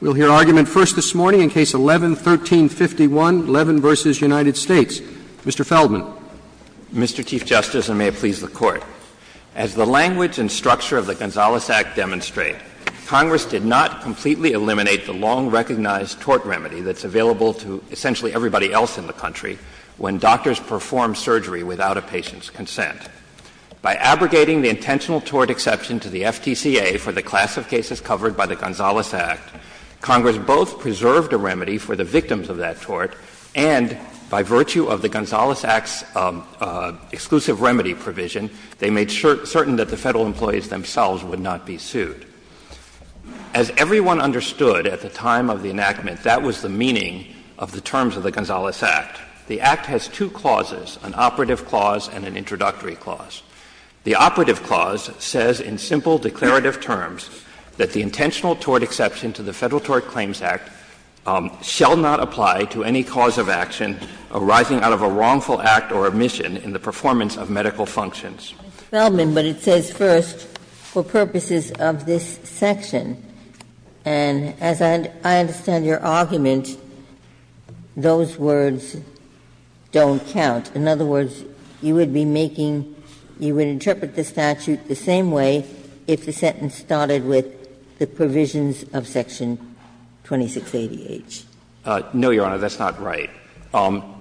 We'll hear argument first this morning in Case 11-1351, Levin v. United States. Mr. Feldman. Mr. Chief Justice, and may it please the Court, as the language and structure of the Gonzales Act demonstrate, Congress did not completely eliminate the long-recognized tort remedy that's available to essentially everybody else in the country when doctors perform surgery without a patient's consent. By abrogating the intentional tort exception to the FTCA for the class of cases covered by the Gonzales Act, Congress both preserved a remedy for the victims of that tort, and by virtue of the Gonzales Act's exclusive remedy provision, they made certain that the Federal employees themselves would not be sued. As everyone understood at the time of the enactment, that was the meaning of the terms of the Gonzales Act. The Act has two clauses, an operative clause and an introductory clause. The operative clause says in simple declarative terms that the intentional tort exception to the Federal Tort Claims Act shall not apply to any cause of action arising out of a wrongful act or omission in the performance of medical functions. Ginsburg, but it says first, for purposes of this section, and as I understand your argument, those words don't count. In other words, you would be making you would interpret the statute the same way if the sentence started with the provisions of section 2680H. No, Your Honor, that's not right.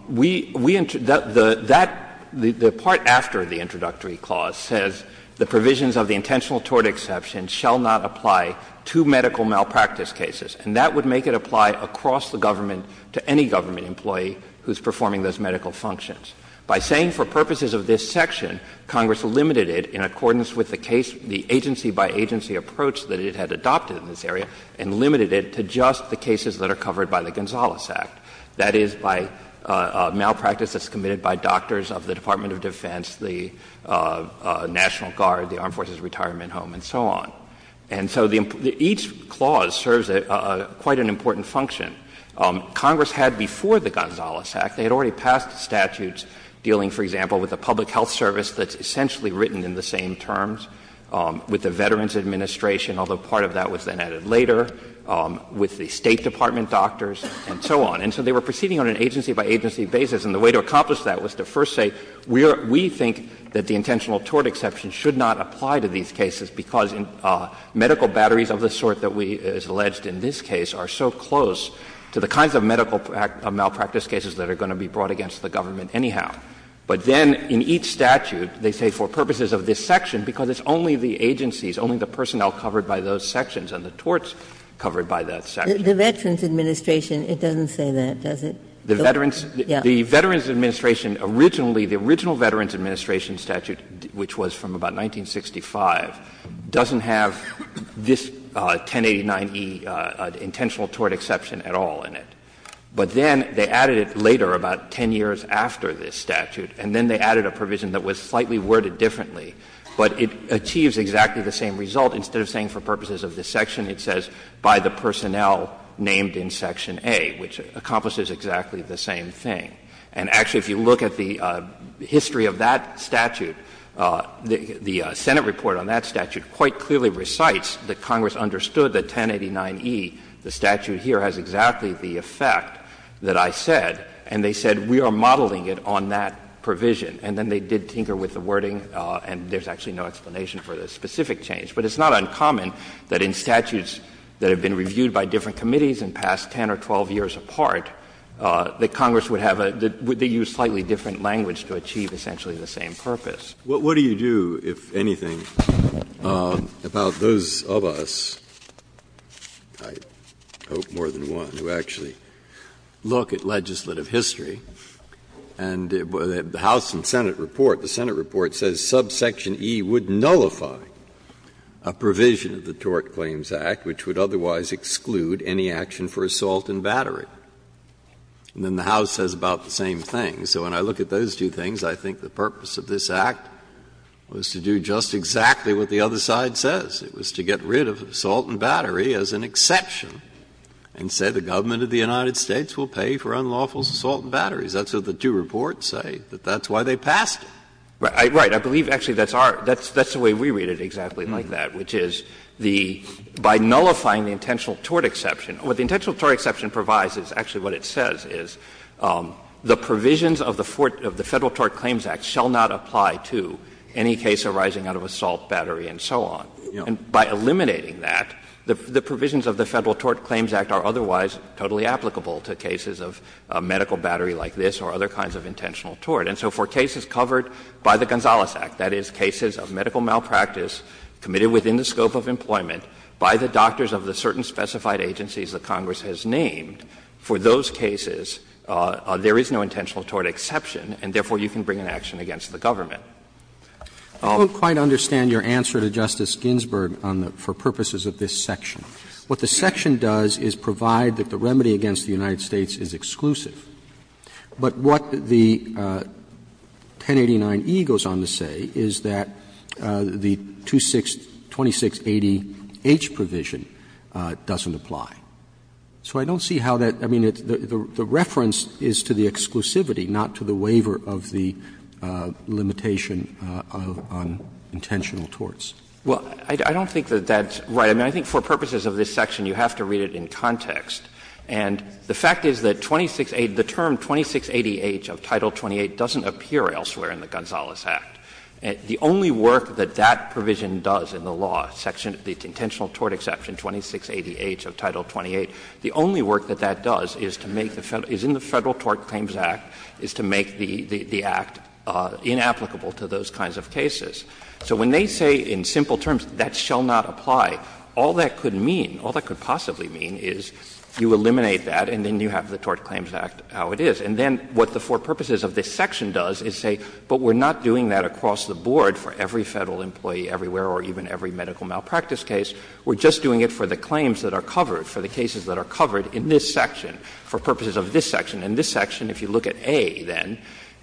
We enter the that the part after the introductory clause says the provisions of the intentional tort exception shall not apply to medical malpractice cases. And that would make it apply across the government to any government employee who is performing those medical functions. By saying for purposes of this section, Congress limited it in accordance with the case, the agency by agency approach that it had adopted in this area and limited it to just the cases that are covered by the Gonzales Act. That is, by malpractice that's committed by doctors of the Department of Defense, the National Guard, the Armed Forces Retirement Home, and so on. And so the each clause serves quite an important function. Congress had before the Gonzales Act, they had already passed statutes dealing, for example, with a public health service that's essentially written in the same terms, with the Veterans Administration, although part of that was then added later, with the State Department doctors, and so on. And so they were proceeding on an agency by agency basis, and the way to accomplish that was to first say, we think that the intentional tort exception should not apply to these cases, because medical batteries of the sort that is alleged in this case are so close to the kinds of medical malpractice cases that are going to be brought against the government anyhow. But then in each statute, they say for purposes of this section, because it's only the agencies, only the personnel covered by those sections, and the torts covered by that section. Ginsburg-Gilmour The Veterans Administration, it doesn't say that, does it? Yeah. Verrilli, The Veterans Administration, originally, the original Veterans Administration statute, which was from about 1965, doesn't have this 1089e intentional tort exception at all in it. But then they added it later, about 10 years after this statute, and then they added a provision that was slightly worded differently, but it achieves exactly the same result. Instead of saying for purposes of this section, it says by the personnel named in section A, which accomplishes exactly the same thing. And actually, if you look at the history of that statute, the Senate report on that statute quite clearly recites that Congress understood that 1089e, the statute here, has exactly the effect that I said, and they said we are modeling it on that provision. And then they did tinker with the wording, and there's actually no explanation for the specific change. But it's not uncommon that in statutes that have been reviewed by different committees and passed 10 or 12 years apart, that Congress would have a — that they use slightly different language to achieve essentially the same purpose. Breyer, What do you do, if anything, about those of us, I hope more than one, who actually look at legislative history, and the House and Senate report, the Senate report says subsection E would nullify a provision of the Tort Claims Act, which would otherwise exclude any action for assault and battery. And then the House says about the same thing. So when I look at those two things, I think the purpose of this Act was to do just exactly what the other side says. It was to get rid of assault and battery as an exception and say the government of the United States will pay for unlawful assault and batteries. That's what the two reports say, that that's why they passed it. Right. I believe actually that's our — that's the way we read it exactly like that, which is the — by nullifying the intentional tort exception, what the intentional tort exception provides is actually what it says, is the provisions of the — of the Federal Tort Claims Act shall not apply to any case arising out of assault, battery, and so on. And by eliminating that, the provisions of the Federal Tort Claims Act are otherwise totally applicable to cases of medical battery like this or other kinds of intentional tort. And so for cases covered by the Gonzales Act, that is, cases of medical malpractice committed within the scope of employment by the doctors of the certain specified agencies that Congress has named, for those cases, there is no intentional tort exception, and therefore you can bring an action against the government. Roberts, I don't quite understand your answer to Justice Ginsburg on the — for purposes of this section. What the section does is provide that the remedy against the United States is exclusive. But what the 1089e goes on to say is that the 2680h provision doesn't apply. So I don't see how that — I mean, the reference is to the exclusivity, not to the waiver of the limitation on intentional torts. Well, I don't think that that's right. I mean, I think for purposes of this section, you have to read it in context. And the fact is that 2680 — the term 2680h of Title 28 doesn't appear elsewhere in the Gonzales Act. The only work that that provision does in the law, section — the intentional tort exception 2680h of Title 28, the only work that that does is to make the Federal — is in the Federal Tort Claims Act, is to make the Act inapplicable to those kinds of cases. So when they say in simple terms, that shall not apply, all that could mean, all that could possibly mean is you eliminate that and then you have the Tort Claims Act how it is. And then what the for purposes of this section does is say, but we're not doing that across the board for every Federal employee everywhere or even every medical malpractice case. We're just doing it for the claims that are covered, for the cases that are covered in this section, for purposes of this section. In this section, if you look at A, then,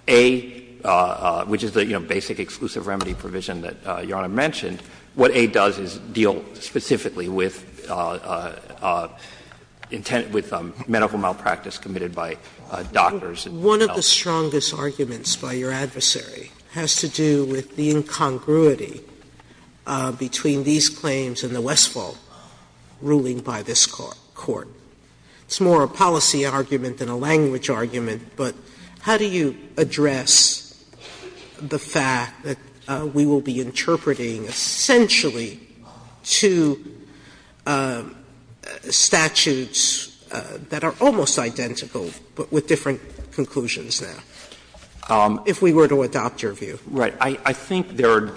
A, which is the, you know, basic exclusive remedy provision that Your Honor mentioned, what A does is deal specifically with intent — with medical malpractice committed by doctors and health care. Sotomayor, one of the strongest arguments by your adversary has to do with the incongruity between these claims and the Westphal ruling by this Court. It's more a policy argument than a language argument, but how do you address the fact that we will be interpreting essentially two statutes that are almost identical but with different conclusions now, if we were to adopt your view? Right. I think there are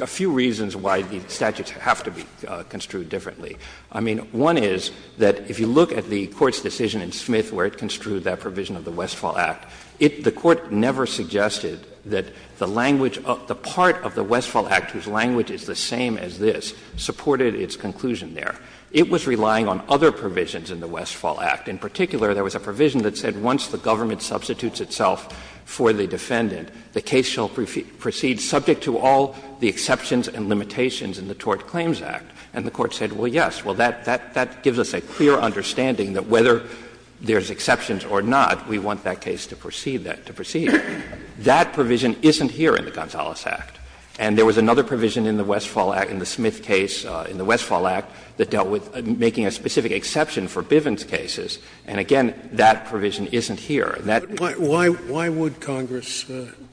a few reasons why the statutes have to be construed differently. I mean, one is that if you look at the Court's decision in Smith where it construed that provision of the Westphal Act, it — the Court never suggested that the language — the part of the Westphal Act whose language is the same as this supported its conclusion there. It was relying on other provisions in the Westphal Act. In particular, there was a provision that said once the government substitutes itself for the defendant, the case shall proceed subject to all the exceptions and limitations in the Tort Claims Act. And the Court said, well, yes, well, that — that gives us a clear understanding that whether there's exceptions or not, we want that case to proceed that — to proceed. That provision isn't here in the Gonzales Act. And there was another provision in the Westphal Act, in the Smith case, in the Westphal Act, that dealt with making a specific exception for Bivens cases. And again, that provision isn't here. And that is— Why — why would Congress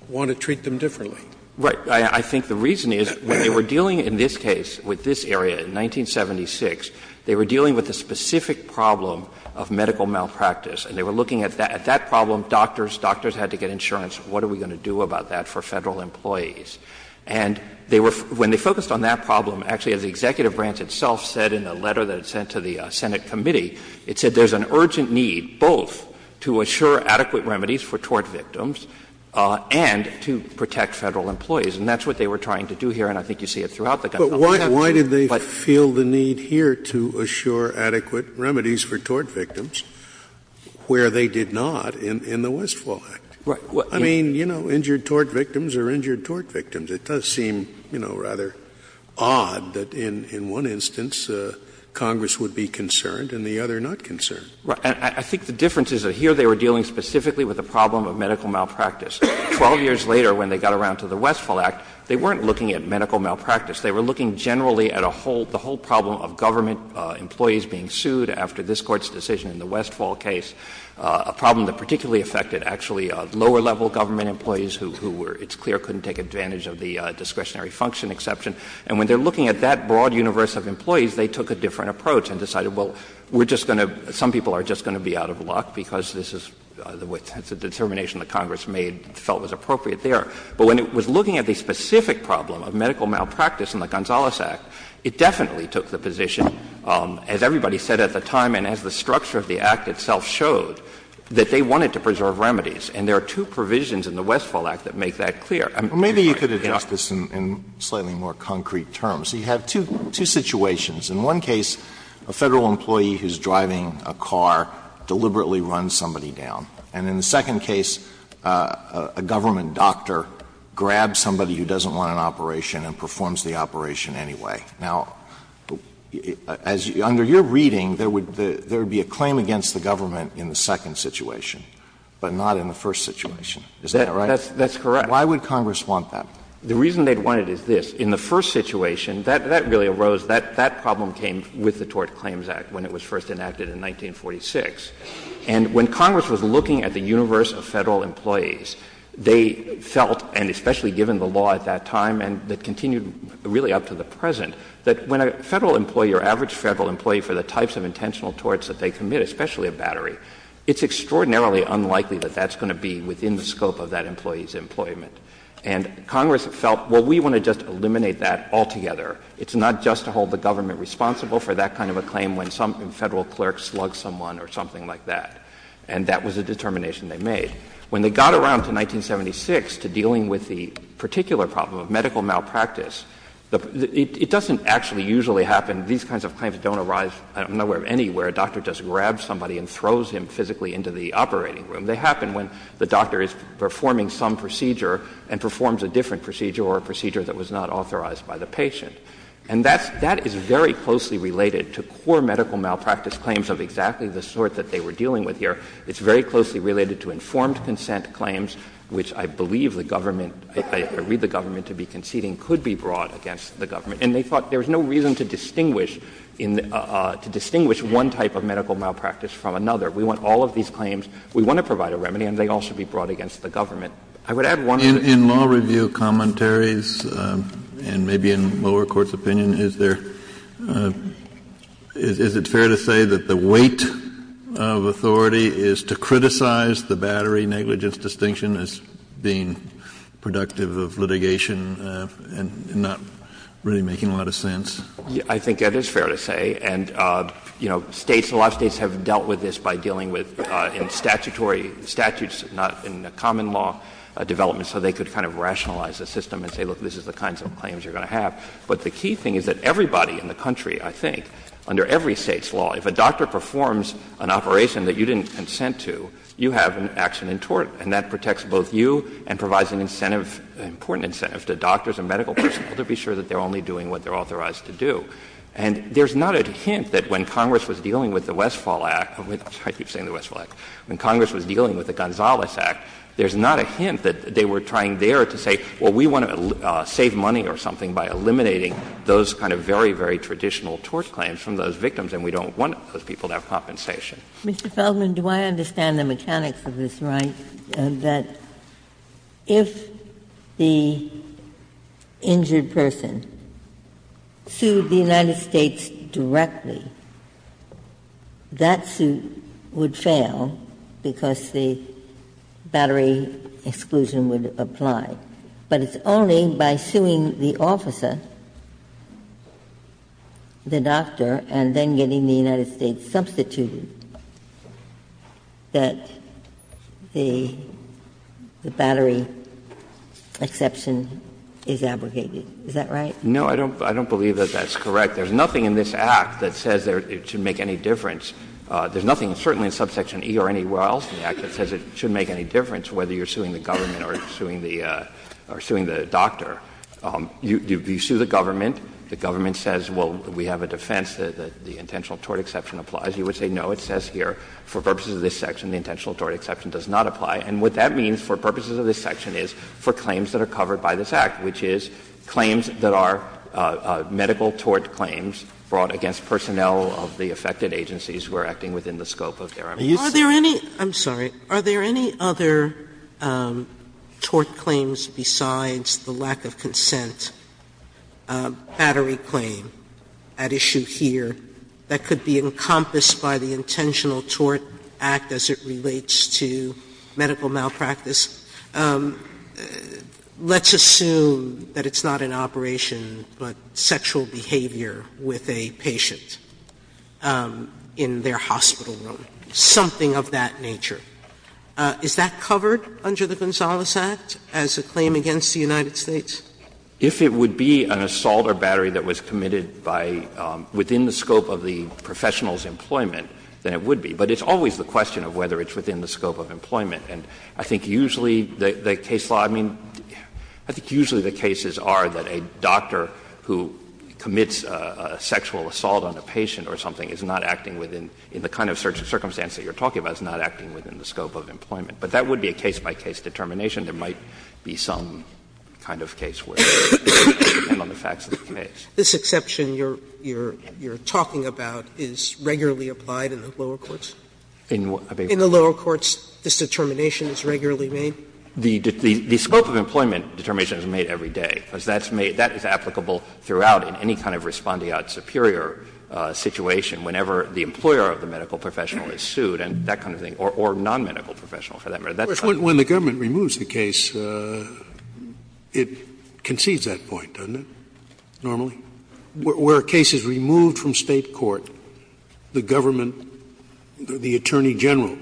want to treat them differently? Right. I think the reason is when they were dealing in this case with this area in 1976, they were dealing with a specific problem of medical malpractice. And they were looking at that problem, doctors, doctors had to get insurance. What are we going to do about that for Federal employees? And they were — when they focused on that problem, actually, as the executive branch itself said in a letter that it sent to the Senate committee, it said there's an urgent need both to assure adequate remedies for tort victims and to protect Federal employees, and that's what they were trying to do here, and I think you see it throughout the Gonzales Act. Scalia But why did they feel the need here to assure adequate remedies for tort victims where they did not in the Westphal Act? I mean, you know, injured tort victims are injured tort victims. It does seem, you know, rather odd that in one instance Congress would be concerned and the other not concerned. Right. And I think the difference is that here they were dealing specifically with a problem of medical malpractice. Twelve years later, when they got around to the Westphal Act, they weren't looking at medical malpractice. They were looking generally at a whole — the whole problem of government employees being sued after this Court's decision in the Westphal case, a problem that particularly affected, actually, lower-level government employees who were, it's clear, couldn't take advantage of the discretionary function exception. And when they're looking at that broad universe of employees, they took a different approach and decided, well, we're just going to — some people are just going to be out of luck because this is — it's a determination that Congress made, felt was appropriate there. But when it was looking at the specific problem of medical malpractice in the Gonzales Act, it definitely took the position, as everybody said at the time and as the structure of the Act itself showed, that they wanted to preserve remedies. And there are two provisions in the Westphal Act that make that clear. Alito, you could address this in slightly more concrete terms. You have two situations. In one case, a Federal employee who's driving a car deliberately runs somebody down. And in the second case, a government doctor grabs somebody who doesn't want an operation and performs the operation anyway. Now, as — under your reading, there would be a claim against the government in the second situation, but not in the first situation. Is that right? That's correct. Why would Congress want that? The reason they'd want it is this. In the first situation, that really arose, that problem came with the Tort Claims Act when it was first enacted in 1946. And when Congress was looking at the universe of Federal employees, they felt, and especially given the law at that time and that continued really up to the present, that when a Federal employee or average Federal employee, for the types of intentional torts that they commit, especially a battery, it's extraordinarily unlikely that that's going to be within the scope of that employee's employment. And Congress felt, well, we want to just eliminate that altogether. It's not just to hold the government responsible for that kind of a claim when some kind of medical malpractice or something like that, and that was a determination they made. When they got around to 1976, to dealing with the particular problem of medical malpractice, it doesn't actually usually happen. These kinds of claims don't arise nowhere, anywhere. A doctor just grabs somebody and throws him physically into the operating room. They happen when the doctor is performing some procedure and performs a different procedure or a procedure that was not authorized by the patient. And that's — that is very closely related to core medical malpractice claims of exactly the sort that they were dealing with here. It's very closely related to informed consent claims, which I believe the government — I read the government to be conceding could be brought against the government. And they thought there was no reason to distinguish in — to distinguish one type of medical malpractice from another. We want all of these claims. We want to provide a remedy, and they all should be brought against the government. I would add one other thing. Kennedy, in your view, commentaries, and maybe in lower court's opinion, is there — is it fair to say that the weight of authority is to criticize the battery negligence distinction as being productive of litigation and not really making a lot of sense? I think that is fair to say. And, you know, States, a lot of States have dealt with this by dealing with statutory statutes, not in a common law development, so they could kind of rationalize the system and say, look, this is the kinds of claims you're going to have. But the key thing is that everybody in the country, I think, under every State's law, if a doctor performs an operation that you didn't consent to, you have an action in tort, and that protects both you and provides an incentive, an important incentive, to doctors and medical personnel to be sure that they're only doing what they're authorized to do. And there's not a hint that when Congress was dealing with the Westfall Act — I keep saying the Westfall Act — when Congress was dealing with the Gonzales Act, there's not a hint that they were trying there to say, well, we want to save money or something by eliminating those kind of very, very traditional tort claims from those victims, and we don't want those people to have compensation. Ginsburg. Ginsburg. Mr. Feldman, do I understand the mechanics of this right, that if the injured person sued the United States directly, that suit would fail because the battery exclusion would apply, but it's only by suing the officer, the doctor, and then getting the United States substituted, that the battery exception is abrogated. Is that right? No, I don't believe that that's correct. There's nothing in this Act that says it should make any difference. There's nothing, certainly in subsection E or anywhere else in the Act, that says it should make any difference whether you're suing the government or suing the doctor. You sue the government, the government says, well, we have a defense that the intentional tort exception applies. You would say, no, it says here, for purposes of this section, the intentional tort exception does not apply. And what that means, for purposes of this section, is for claims that are covered by this Act, which is claims that are medical tort claims brought against personnel of the affected agencies who are acting within the scope of their abuse. Sotomayor, are there any other tort claims besides the lack of consent, battery claim, at issue here, that could be encompassed by the Intentional Tort Act as it relates to medical malpractice? Let's assume that it's not an operation, but sexual behavior with a patient in their hospital room, something of that nature. Is that covered under the Gonzales Act as a claim against the United States? If it would be an assault or battery that was committed by the — within the scope of the professional's employment, then it would be. But it's always the question of whether it's within the scope of employment. And I think usually the case law — I mean, I think usually the cases are that a doctor who commits a sexual assault on a patient or something is not acting within — in the kind of circumstance that you're talking about, is not acting within the scope of employment. But that would be a case-by-case determination. There might be some kind of case where it would depend on the facts of the case. Sotomayor, this exception you're talking about is regularly applied in the lower courts? In the lower courts, this determination is regularly made? The scope of employment determination is made every day, because that's made — that is applicable throughout in any kind of respondeat superior situation, whenever the employer of the medical professional is sued and that kind of thing, or nonmedical professional, for that matter. Scalia, when the government removes the case, it concedes that point, doesn't it, normally? Where a case is removed from State court, the government, the attorney general,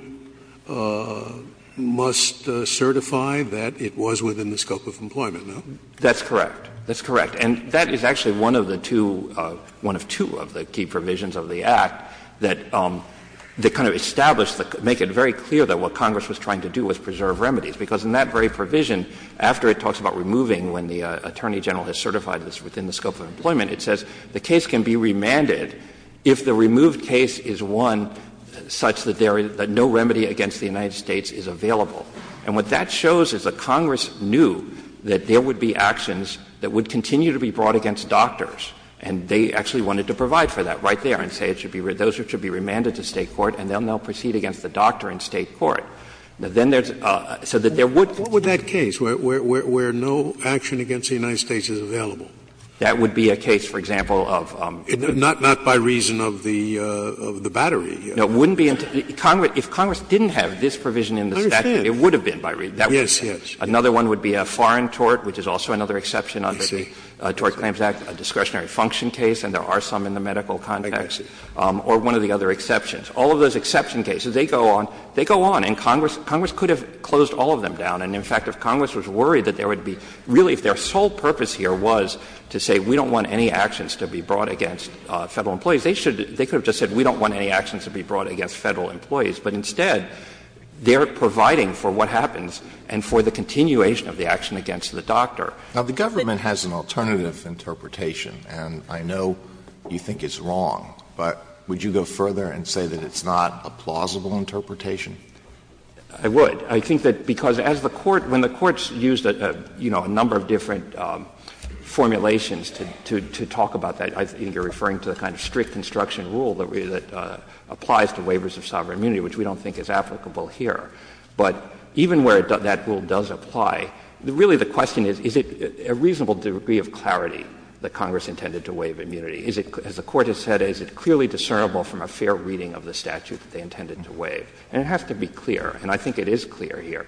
must certify that it was within the scope of employment, no? That's correct. That's correct. And that is actually one of the two — one of two of the key provisions of the Act that kind of establish the — make it very clear that what Congress was trying to do was preserve remedies, because in that very provision, after it talks about removing, when the attorney general has certified it's within the scope of employment, it says the case can be remanded if the removed case is one such that there is — that no remedy against the United States is available. And what that shows is that Congress knew that there would be actions that would continue to be brought against doctors, and they actually wanted to provide for that right there and say it should be — those should be remanded to State court, and they'll now proceed against the doctor in State court. Then there's — so that there would be — What would that case, where no action against the United States is available? That would be a case, for example, of — Not by reason of the battery. No, it wouldn't be — if Congress didn't have this provision in the statute, it would have been by reason. Yes, yes. Another one would be a foreign tort, which is also another exception under the Tort Claims Act, a discretionary function case, and there are some in the medical context, or one of the other exceptions. All of those exception cases, they go on, they go on, and Congress — Congress could have closed all of them down. And in fact, if Congress was worried that there would be — really, if their sole purpose here was to say we don't want any actions to be brought against Federal employees, they should — they could have just said we don't want any actions to be brought against Federal employees, but instead, they're providing for what happens and for the continuation of the action against the doctor. Now, the government has an alternative interpretation, and I know you think it's wrong, but would you go further and say that it's not a plausible interpretation? I would. I think that because as the Court — when the Court used, you know, a number of different formulations to talk about that, I think you're referring to the kind of strict construction rule that applies to waivers of sovereign immunity, which we don't think is applicable here. But even where that rule does apply, really the question is, is it a reasonable degree of clarity that Congress intended to waive immunity? Is it, as the Court has said, is it clearly discernible from a fair reading of the statute that they intended to waive? And it has to be clear, and I think it is clear here.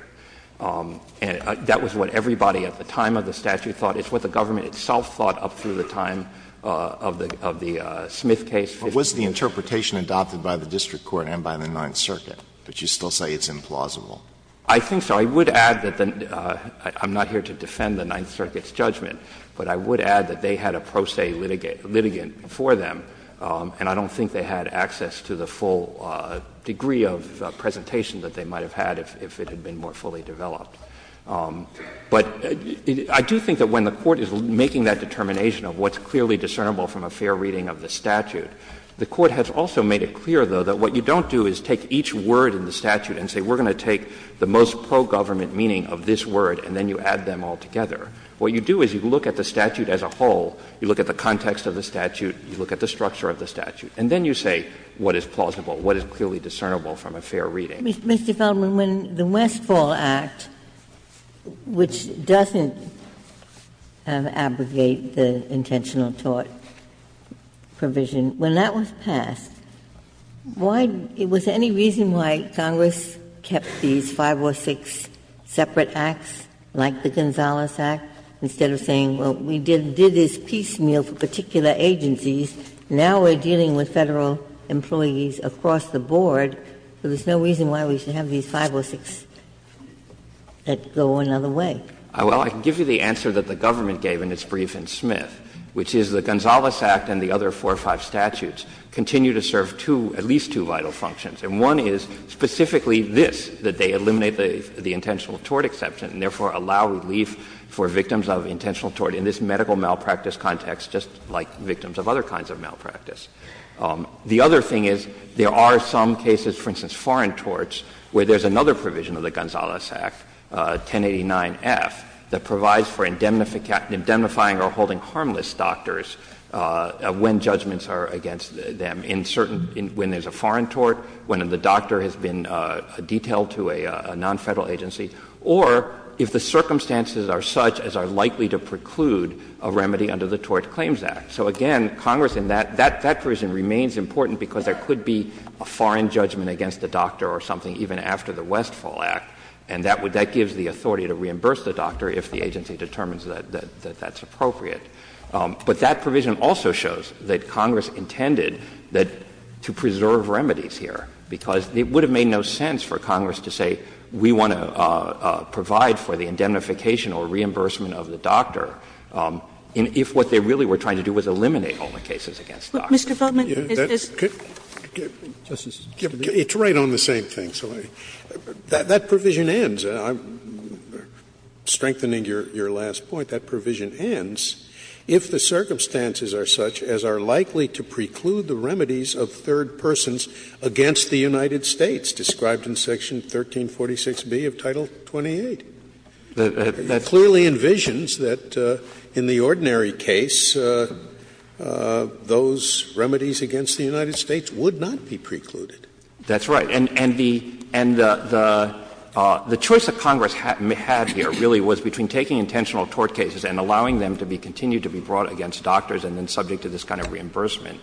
And that was what everybody at the time of the statute thought. It's what the government itself thought up through the time of the — of the Smith case. Alito But was the interpretation adopted by the district court and by the Ninth Circuit? But you still say it's implausible. I think so. I would add that the — I'm not here to defend the Ninth Circuit's judgment, but I would add that they had a pro se litigant for them, and I don't think they had access to the full degree of presentation that they might have had if it had been more fully developed. But I do think that when the Court is making that determination of what's clearly discernible from a fair reading of the statute, the Court has also made it clear, though, that what you don't do is take each word in the statute and say we're going to take the most pro-government meaning of this word and then you add them all together. What you do is you look at the statute as a whole, you look at the context of the statute, you look at the structure of the statute, and then you say what is plausible, what is clearly discernible from a fair reading. Ginsburg Mr. Feldman, when the Westfall Act, which doesn't abrogate the intentional tort provision, when that was passed, why — was there any reason why Congress kept these 506 separate acts, like the Gonzales Act, instead of saying, well, we did this piecemeal for particular agencies, now we're dealing with Federal employees across the board, so there's no reason why we should have these 506 that go another way? Feldman Well, I can give you the answer that the government gave in its brief in Smith, which is the Gonzales Act and the other four or five statutes continue to serve two, at least two, vital functions. And one is specifically this, that they eliminate the intentional tort exception and therefore allow relief for victims of intentional tort in this medical malpractice context, just like victims of other kinds of malpractice. The other thing is there are some cases, for instance, foreign torts, where there is another provision of the Gonzales Act, 1089F, that provides for indemnifying or holding harmless doctors when judgments are against them in certain — when there's a foreign tort, when the doctor has been detailed to a non-Federal agency, or if the circumstances are such as are likely to preclude a remedy under the Tort Claims Act. So again, Congress in that — that provision remains important because there could be a foreign judgment against the doctor or something even after the Westfall Act, and that would — that gives the authority to reimburse the doctor if the agency determines that that's appropriate. But that provision also shows that Congress intended that — to preserve remedies here, because it would have made no sense for Congress to say, we want to provide for the indemnification or reimbursement of the doctor if what they really were trying to do was eliminate all the cases against doctors. Kagan. Mr. Feldman, is this the case? Mr. Feldman, is this the case? Scalia. It's right on the same thing, so I — that provision ends, and I'm strengthening your last point. That provision ends if the circumstances are such as are likely to preclude the remedies of third persons against the United States, described in Section 1346B of Title XXVIII. That clearly envisions that, in the ordinary case, those remedies against the United States would not be precluded. That's right. And the — and the choice that Congress had here really was between taking intentional tort cases and allowing them to be continued to be brought against doctors and then subject to this kind of reimbursement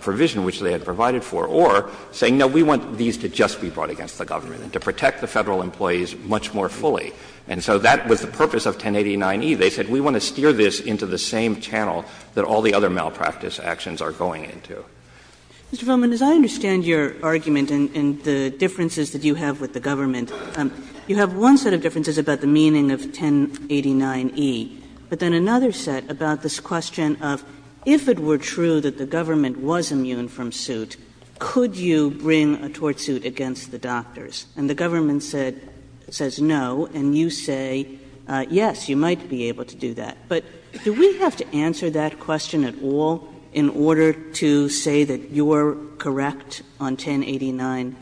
provision, which they had provided for, or saying, no, we want these to just be brought against the government and to protect the Federal employees much more fully. And so that was the purpose of 1089e. They said, we want to steer this into the same channel that all the other malpractice actions are going into. Mr. Feldman, as I understand your argument and the differences that you have with the government, you have one set of differences about the meaning of 1089e, but then another set about this question of if it were true that the government was immune from suit, could you bring a tort suit against the doctors? And the government said — says no, and you say, yes, you might be able to do that. But do we have to answer that question at all in order to say that you're correct on 1089e?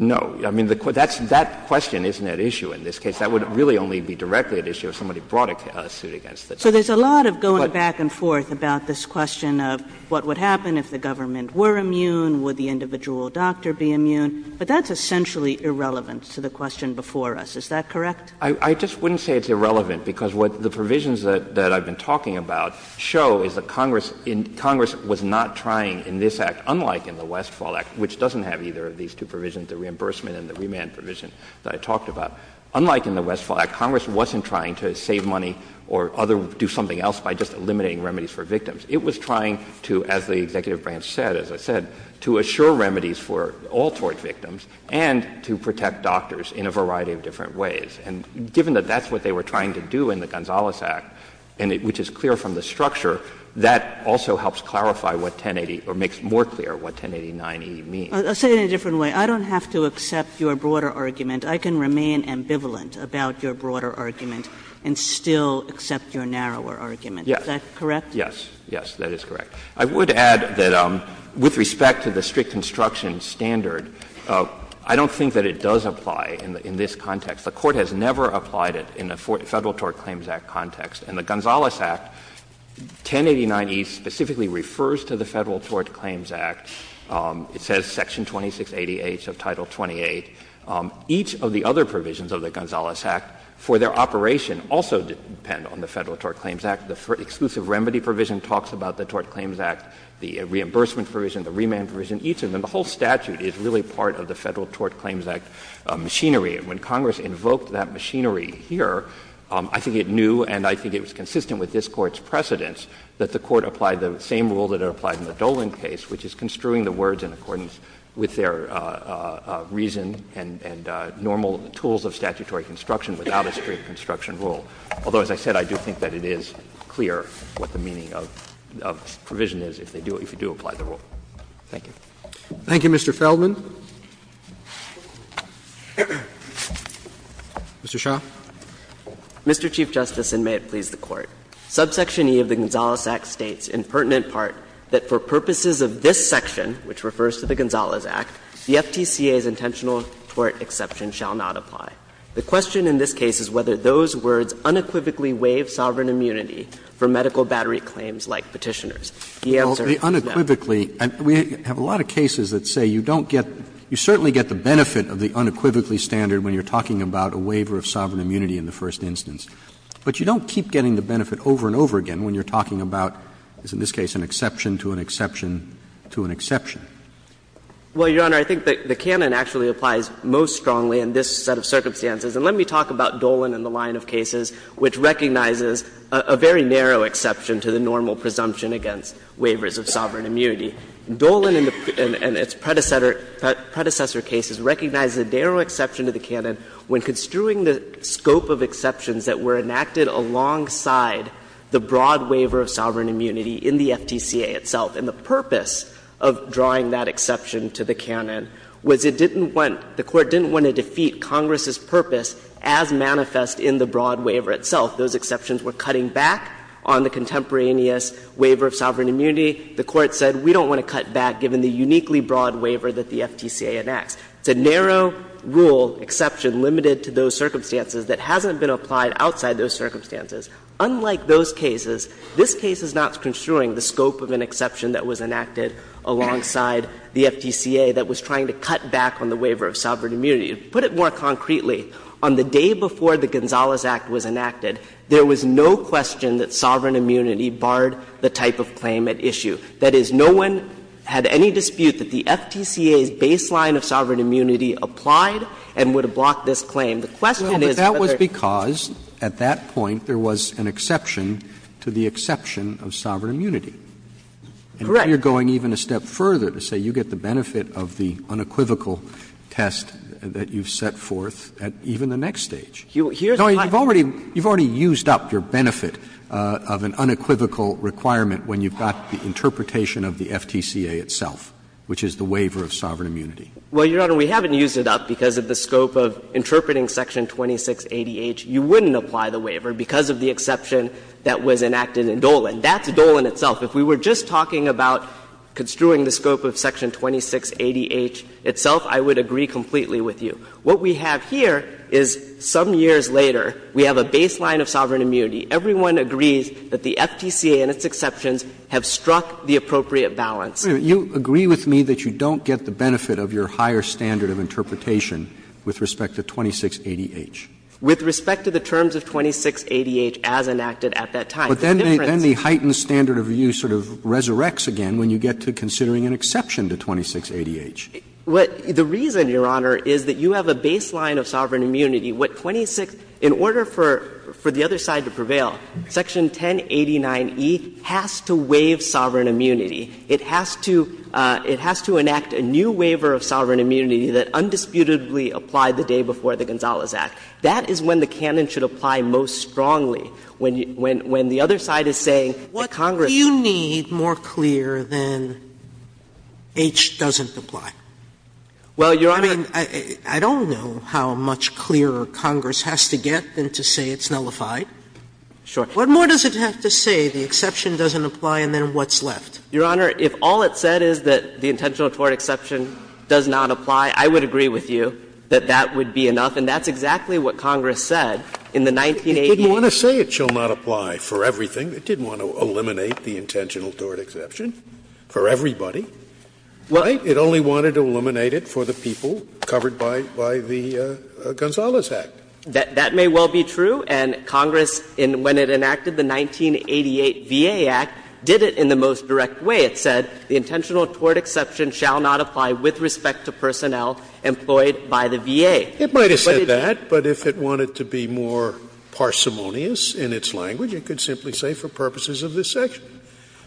No. I mean, that's — that question isn't at issue in this case. That would really only be directly at issue if somebody brought a suit against the doctors. So there's a lot of going back and forth about this question of what would happen if the government were immune, would the individual doctor be immune. But that's essentially irrelevant to the question before us. Is that correct? I just wouldn't say it's irrelevant, because what the provisions that I've been talking about show is that Congress — Congress was not trying in this Act, unlike in the Westfall Act, which doesn't have either of these two provisions, the reimbursement and the remand provision that I talked about, unlike in the Westfall Act, Congress wasn't trying to save money or other — do something else by just eliminating remedies for victims. It was trying to, as the executive branch said, as I said, to assure remedies for all tort victims and to protect doctors in a variety of different ways. And given that that's what they were trying to do in the Gonzales Act, and it — which is clear from the structure, that also helps clarify what 1080 — or makes more clear what 1089e means. Kagan, I'll say it in a different way. I don't have to accept your broader argument. I can remain ambivalent about your broader argument and still accept your narrower argument. Is that correct? Yes. Yes, that is correct. I would add that with respect to the strict construction standard, I don't think that it does apply in this context. The Court has never applied it in a Federal Tort Claims Act context. In the Gonzales Act, 1089e specifically refers to the Federal Tort Claims Act. It says section 2680H of Title 28. Each of the other provisions of the Gonzales Act for their operation also depend on the Federal Tort Claims Act. The Exclusive Remedy provision talks about the Tort Claims Act, the Reimbursement provision, the Remand provision, each of them. The whole statute is really part of the Federal Tort Claims Act machinery. And when Congress invoked that machinery here, I think it knew and I think it was consistent with this Court's precedence that the Court applied the same rule that it applied in the Dolan case, which is construing the words in accordance with their reason and normal tools of statutory construction without a strict construction rule. Although, as I said, I do think that it is clear what the meaning of the provision is if they do – if you do apply the rule. Thank you. Roberts. Thank you, Mr. Feldman. Mr. Shah. Mr. Chief Justice, and may it please the Court. Subsection E of the Gonzales Act states, in pertinent part, that for purposes of this section, which refers to the Gonzales Act, the FTCA's intentional tort exception shall not apply. The question in this case is whether those words unequivocally waive sovereign immunity for medical battery claims like Petitioner's. The answer is no. Roberts. Well, the unequivocally – we have a lot of cases that say you don't get – you certainly get the benefit of the unequivocally standard when you're talking about a waiver of sovereign immunity in the first instance, but you don't keep getting the benefit over and over again when you're talking about, as in this case, an exception to an exception to an exception. Well, Your Honor, I think the canon actually applies most strongly in this set of circumstances. And let me talk about Dolan and the line of cases, which recognizes a very narrow exception to the normal presumption against waivers of sovereign immunity. Dolan and its predecessor cases recognize a narrow exception to the canon when construing the scope of exceptions that were enacted alongside the broad waiver of sovereign immunity itself, and the purpose of drawing that exception to the canon was it didn't want – the Court didn't want to defeat Congress's purpose as manifest in the broad waiver itself. Those exceptions were cutting back on the contemporaneous waiver of sovereign immunity. The Court said we don't want to cut back given the uniquely broad waiver that the FTCA enacts. It's a narrow rule exception limited to those circumstances that hasn't been applied outside those circumstances. Unlike those cases, this case is not construing the scope of an exception that was enacted alongside the FTCA that was trying to cut back on the waiver of sovereign immunity. To put it more concretely, on the day before the Gonzales Act was enacted, there was no question that sovereign immunity barred the type of claim at issue. That is, no one had any dispute that the FTCA's baseline of sovereign immunity applied and would have blocked this claim. The question is whether they're going to apply it. Roberts And you're going even a step further to say you get the benefit of the unequivocal test that you've set forth at even the next stage. No, you've already used up your benefit of an unequivocal requirement when you've got the interpretation of the FTCA itself, which is the waiver of sovereign immunity. Well, Your Honor, we haven't used it up because of the scope of interpreting Section 2680H. If we were just talking about construing the scope of Section 2680H itself, I would agree completely with you. What we have here is some years later, we have a baseline of sovereign immunity. Everyone agrees that the FTCA and its exceptions have struck the appropriate balance. Roberts You agree with me that you don't get the benefit of your higher standard of interpretation with respect to 2680H? With respect to the terms of 2680H as enacted at that time. Roberts But then the heightened standard of view sort of resurrects again when you get to considering an exception to 2680H. The reason, Your Honor, is that you have a baseline of sovereign immunity. What 26 — in order for the other side to prevail, Section 1089e has to waive sovereign immunity. It has to enact a new waiver of sovereign immunity that undisputably applied the day before the Gonzales Act. That is when the canon should apply most strongly, when the other side is saying Sotomayor What do you need more clear than H doesn't apply? I mean, I don't know how much clearer Congress has to get than to say it's nullified. Roberts Sure. Sotomayor What more does it have to say the exception doesn't apply and then what's left? Roberts Your Honor, if all it said is that the intentional tort exception does not apply, I would agree with you that that would be enough. And that's exactly what Congress said in the 1980s. Scalia It didn't want to say it shall not apply for everything. It didn't want to eliminate the intentional tort exception for everybody. Right? It only wanted to eliminate it for the people covered by the Gonzales Act. Roberts That may well be true. And Congress, when it enacted the 1988 VA Act, did it in the most direct way. It said the intentional tort exception shall not apply with respect to personnel employed by the VA. Scalia It might have said that, but if it wanted to be more parsimonious in its language, it could simply say for purposes of this section.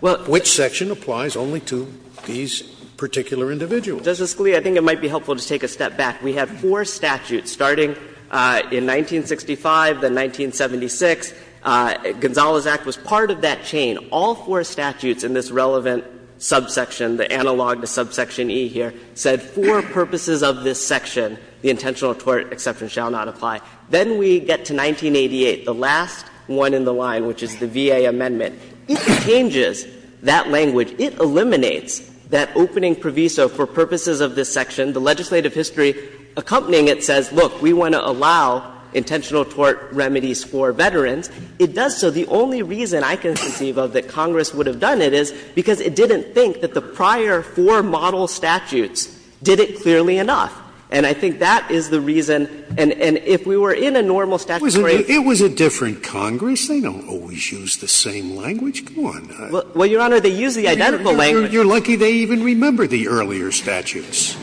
Which section applies only to these particular individuals? Roberts Justice Scalia, I think it might be helpful to take a step back. We had four statutes starting in 1965, then 1976. Gonzales Act was part of that chain. All four statutes in this relevant subsection, the analog to subsection E here, said for purposes of this section, the intentional tort exception shall not apply. Then we get to 1988, the last one in the line, which is the VA amendment. It changes that language. It eliminates that opening proviso for purposes of this section. The legislative history accompanying it says, look, we want to allow intentional tort remedies for veterans. It does so. The only reason I can conceive of that Congress would have done it is because it didn't think that the prior four model statutes did it clearly enough. And I think that is the reason. And if we were in a normal statute where it was a different Congress, they don't always use the same language. Go on. Well, Your Honor, they use the identical language. You're lucky they even remember the earlier statutes.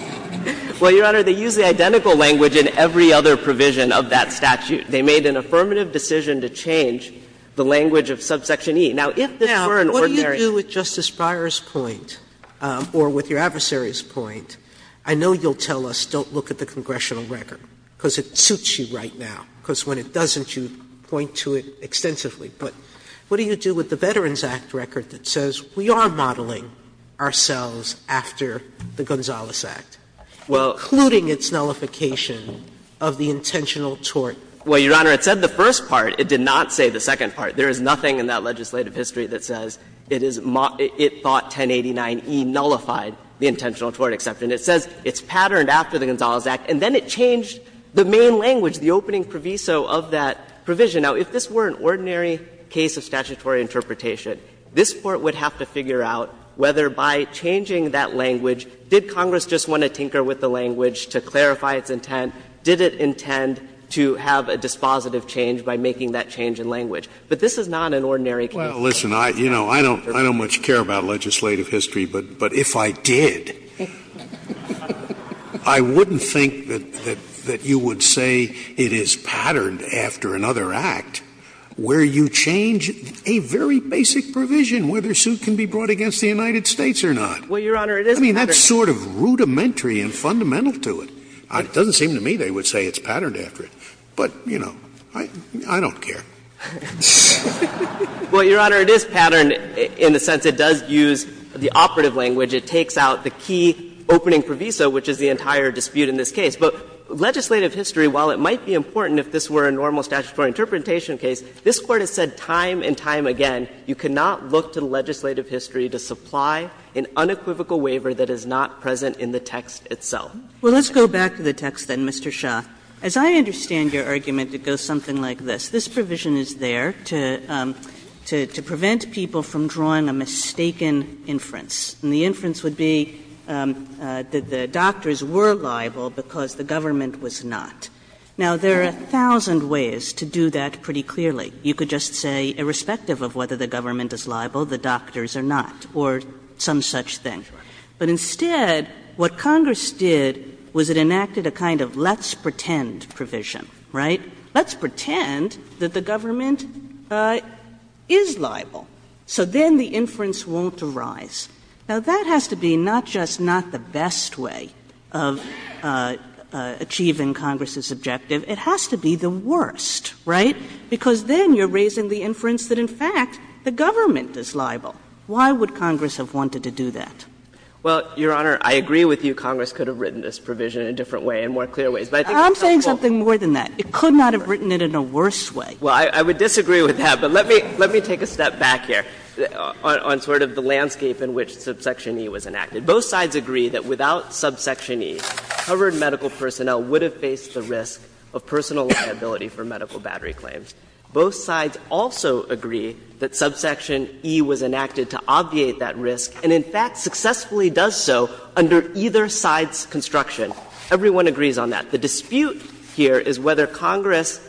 Well, Your Honor, they use the identical language in every other provision of that statute. They made an affirmative decision to change the language of subsection E. Now, if this were an ordinary. Sotomayor, what do you do with Justice Breyer's point, or with your adversary's point? I know you'll tell us don't look at the congressional record, because it suits you right now, because when it doesn't, you point to it extensively. But what do you do with the Veterans Act record that says we are modeling ourselves after the Gonzales Act, including its nullification of the intentional tort? Well, Your Honor, it said the first part. It did not say the second part. There is nothing in that legislative history that says it thought 1089E nullified the intentional tort exception. It says it's patterned after the Gonzales Act, and then it changed the main language, the opening proviso of that provision. Now, if this were an ordinary case of statutory interpretation, this Court would have to figure out whether by changing that language, did Congress just want to tinker with the language to clarify its intent, did it intend to have a dispositive change by making that change in language. But this is not an ordinary case. Scalia. Well, listen, I don't much care about legislative history, but if I did, I wouldn't think that you would say it is patterned after another act where you change a very basic provision, whether a suit can be brought against the United States or not. Well, Your Honor, it is patterned. I mean, that's sort of rudimentary and fundamental to it. It doesn't seem to me they would say it's patterned after it. But, you know, I don't care. Well, Your Honor, it is patterned in the sense it does use the operative language. It takes out the key opening proviso, which is the entire dispute in this case. But legislative history, while it might be important if this were a normal statutory interpretation case, this Court has said time and time again you cannot look to legislative history to supply an unequivocal waiver that is not present in the text itself. Well, let's go back to the text then, Mr. Shah. As I understand your argument, it goes something like this. This provision is there to prevent people from drawing a mistaken inference. And the inference would be that the doctors were liable because the government was not. Now, there are a thousand ways to do that pretty clearly. You could just say, irrespective of whether the government is liable, the doctors are not, or some such thing. But instead, what Congress did was it enacted a kind of let's pretend provision, right? Let's pretend that the government is liable. So then the inference won't arise. Now, that has to be not just not the best way of achieving Congress's objective, it has to be the worst, right? Because then you are raising the inference that, in fact, the government is liable. Why would Congress have wanted to do that? Well, Your Honor, I agree with you, Congress could have written this provision in a different way, in more clear ways. But I think it's helpful. I'm saying something more than that. It could not have written it in a worse way. Well, I would disagree with that. But let me take a step back here on sort of the landscape in which subsection E was enacted. Both sides agree that without subsection E, covered medical personnel would have faced the risk of personal liability for medical battery claims. Both sides also agree that subsection E was enacted to obviate that risk and, in fact, successfully does so under either side's construction. Everyone agrees on that. The dispute here is whether Congress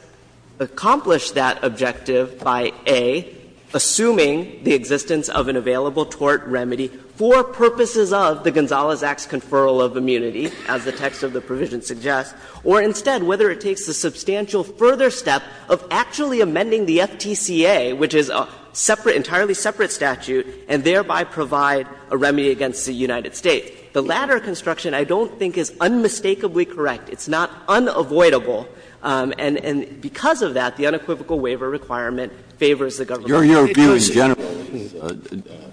accomplished that objective by, A, assuming the existence of an available tort remedy for purposes of the Gonzales Act's conferral of immunity, as the text of the provision suggests, or instead whether it takes a substantial further step of actually amending the FTCA, which is a separate statute, and thereby provide a remedy against the United States. The latter construction I don't think is unmistakably correct. It's not unavoidable. And because of that, the unequivocal waiver requirement favors the government of the United States. Breyer.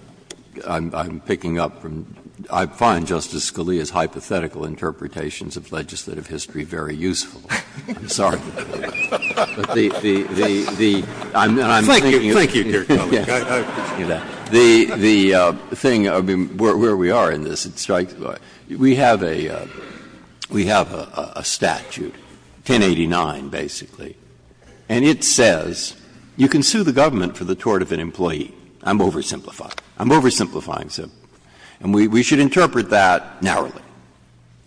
I'm picking up from — I find Justice Scalia's hypothetical interpretations of legislative history very useful. I'm sorry. The — the — the — and I'm thinking of it. Scalia. Thank you, thank you, dear colleague. Breyer. I appreciate that. The — the thing, I mean, where we are in this, it strikes — we have a — we have a statute, 1089, basically, and it says you can sue the government for the tort of an employee. I'm oversimplifying. I'm oversimplifying. And we should interpret that narrowly.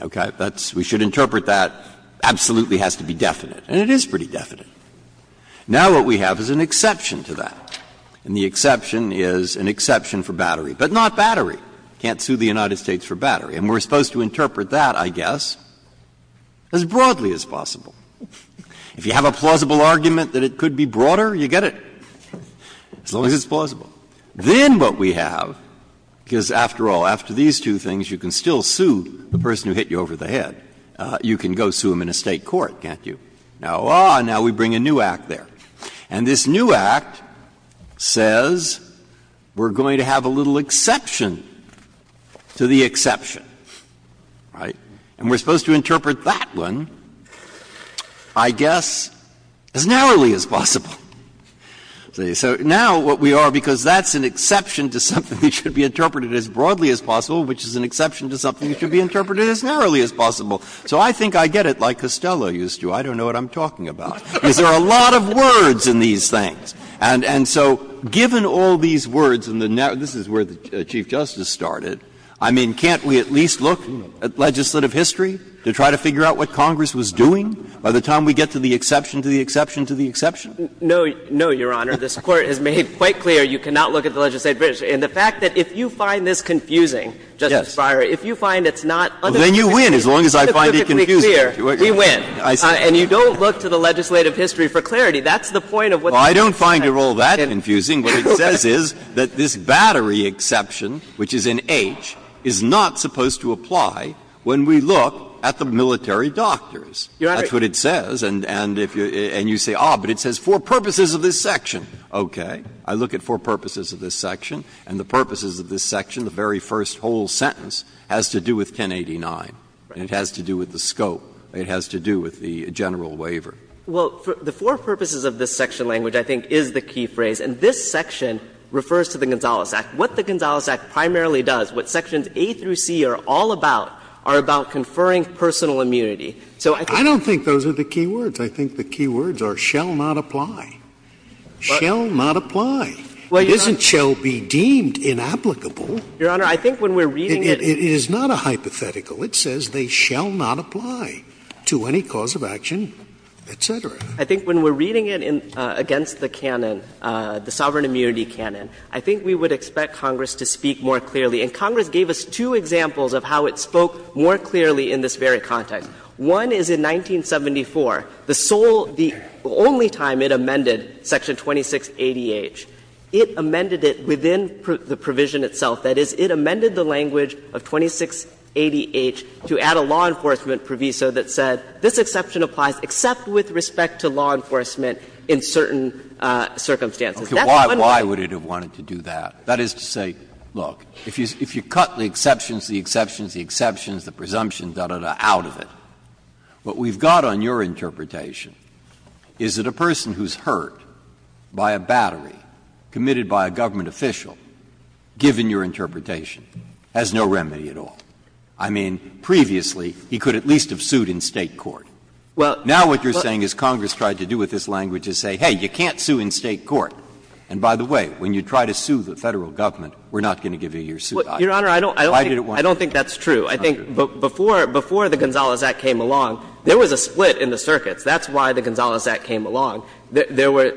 Okay? That's — we should interpret that absolutely has to be definite. And it is pretty definite. Now what we have is an exception to that. And the exception is an exception for battery, but not battery. You can't sue the United States for battery. And we're supposed to interpret that, I guess, as broadly as possible. If you have a plausible argument that it could be broader, you get it, as long as it's plausible. Then what we have, because after all, after these two things, you can still sue the person who hit you over the head. You can go sue them in a State court, can't you? Now, ah, now we bring a new act there. And this new act says we're going to have a little exception to the exception. Right? And we're supposed to interpret that one, I guess, as narrowly as possible. So now what we are, because that's an exception to something that should be interpreted as broadly as possible, which is an exception to something that should be interpreted as narrowly as possible. So I think I get it like Costello used to. I don't know what I'm talking about, because there are a lot of words in these things. And so given all these words in the narrative, this is where the Chief Justice started, I mean, can't we at least look at legislative history to try to figure out what Congress was doing by the time we get to the exception to the exception to the exception? No, no, Your Honor. This Court has made quite clear you cannot look at the legislative history. And the fact that if you find this confusing, Justice Breyer, if you find it's not understandable, it's perfectly clear, we win. And you don't look to the legislative history for clarity. That's the point of what the Chief Justice said. Breyer. Well, I don't find it all that confusing. What it says is that this battery exception, which is in H, is not supposed to apply when we look at the military doctors. That's what it says. And if you say, ah, but it says for purposes of this section. Okay. I look at for purposes of this section, and the purposes of this section, the very first whole sentence, has to do with 1089, and it has to do with the scope. It has to do with the general waiver. Well, the for purposes of this section language, I think, is the key phrase. And this section refers to the Gonzales Act. What the Gonzales Act primarily does, what sections A through C are all about, are about conferring personal immunity. So I think the key words are shall not apply. Shall not apply. It isn't shall be deemed inapplicable. Your Honor, I think when we're reading it. It is not a hypothetical. It says they shall not apply. To any cause of action, et cetera. I think when we're reading it against the canon, the sovereign immunity canon, I think we would expect Congress to speak more clearly. And Congress gave us two examples of how it spoke more clearly in this very context. One is in 1974, the sole the only time it amended Section 2680H, it amended it within the provision itself. That is, it amended the language of 2680H to add a law enforcement proviso that said this exception applies except with respect to law enforcement in certain circumstances. That's what I'm talking about. Breyer. Why would it have wanted to do that? That is to say, look, if you cut the exceptions, the exceptions, the exceptions, the presumptions, da, da, da, out of it, what we've got on your interpretation is that a person who's hurt by a battery committed by a government official, given your interpretation, has no remedy at all. I mean, previously, he could at least have sued in State court. Now what you're saying is Congress tried to do with this language is say, hey, you can't sue in State court. And by the way, when you try to sue the Federal Government, we're not going to give you your suit. Why did it want to do that? I don't think that's true. I think before the Gonzales Act came along, there was a split in the circuits. That's why the Gonzales Act came along. There were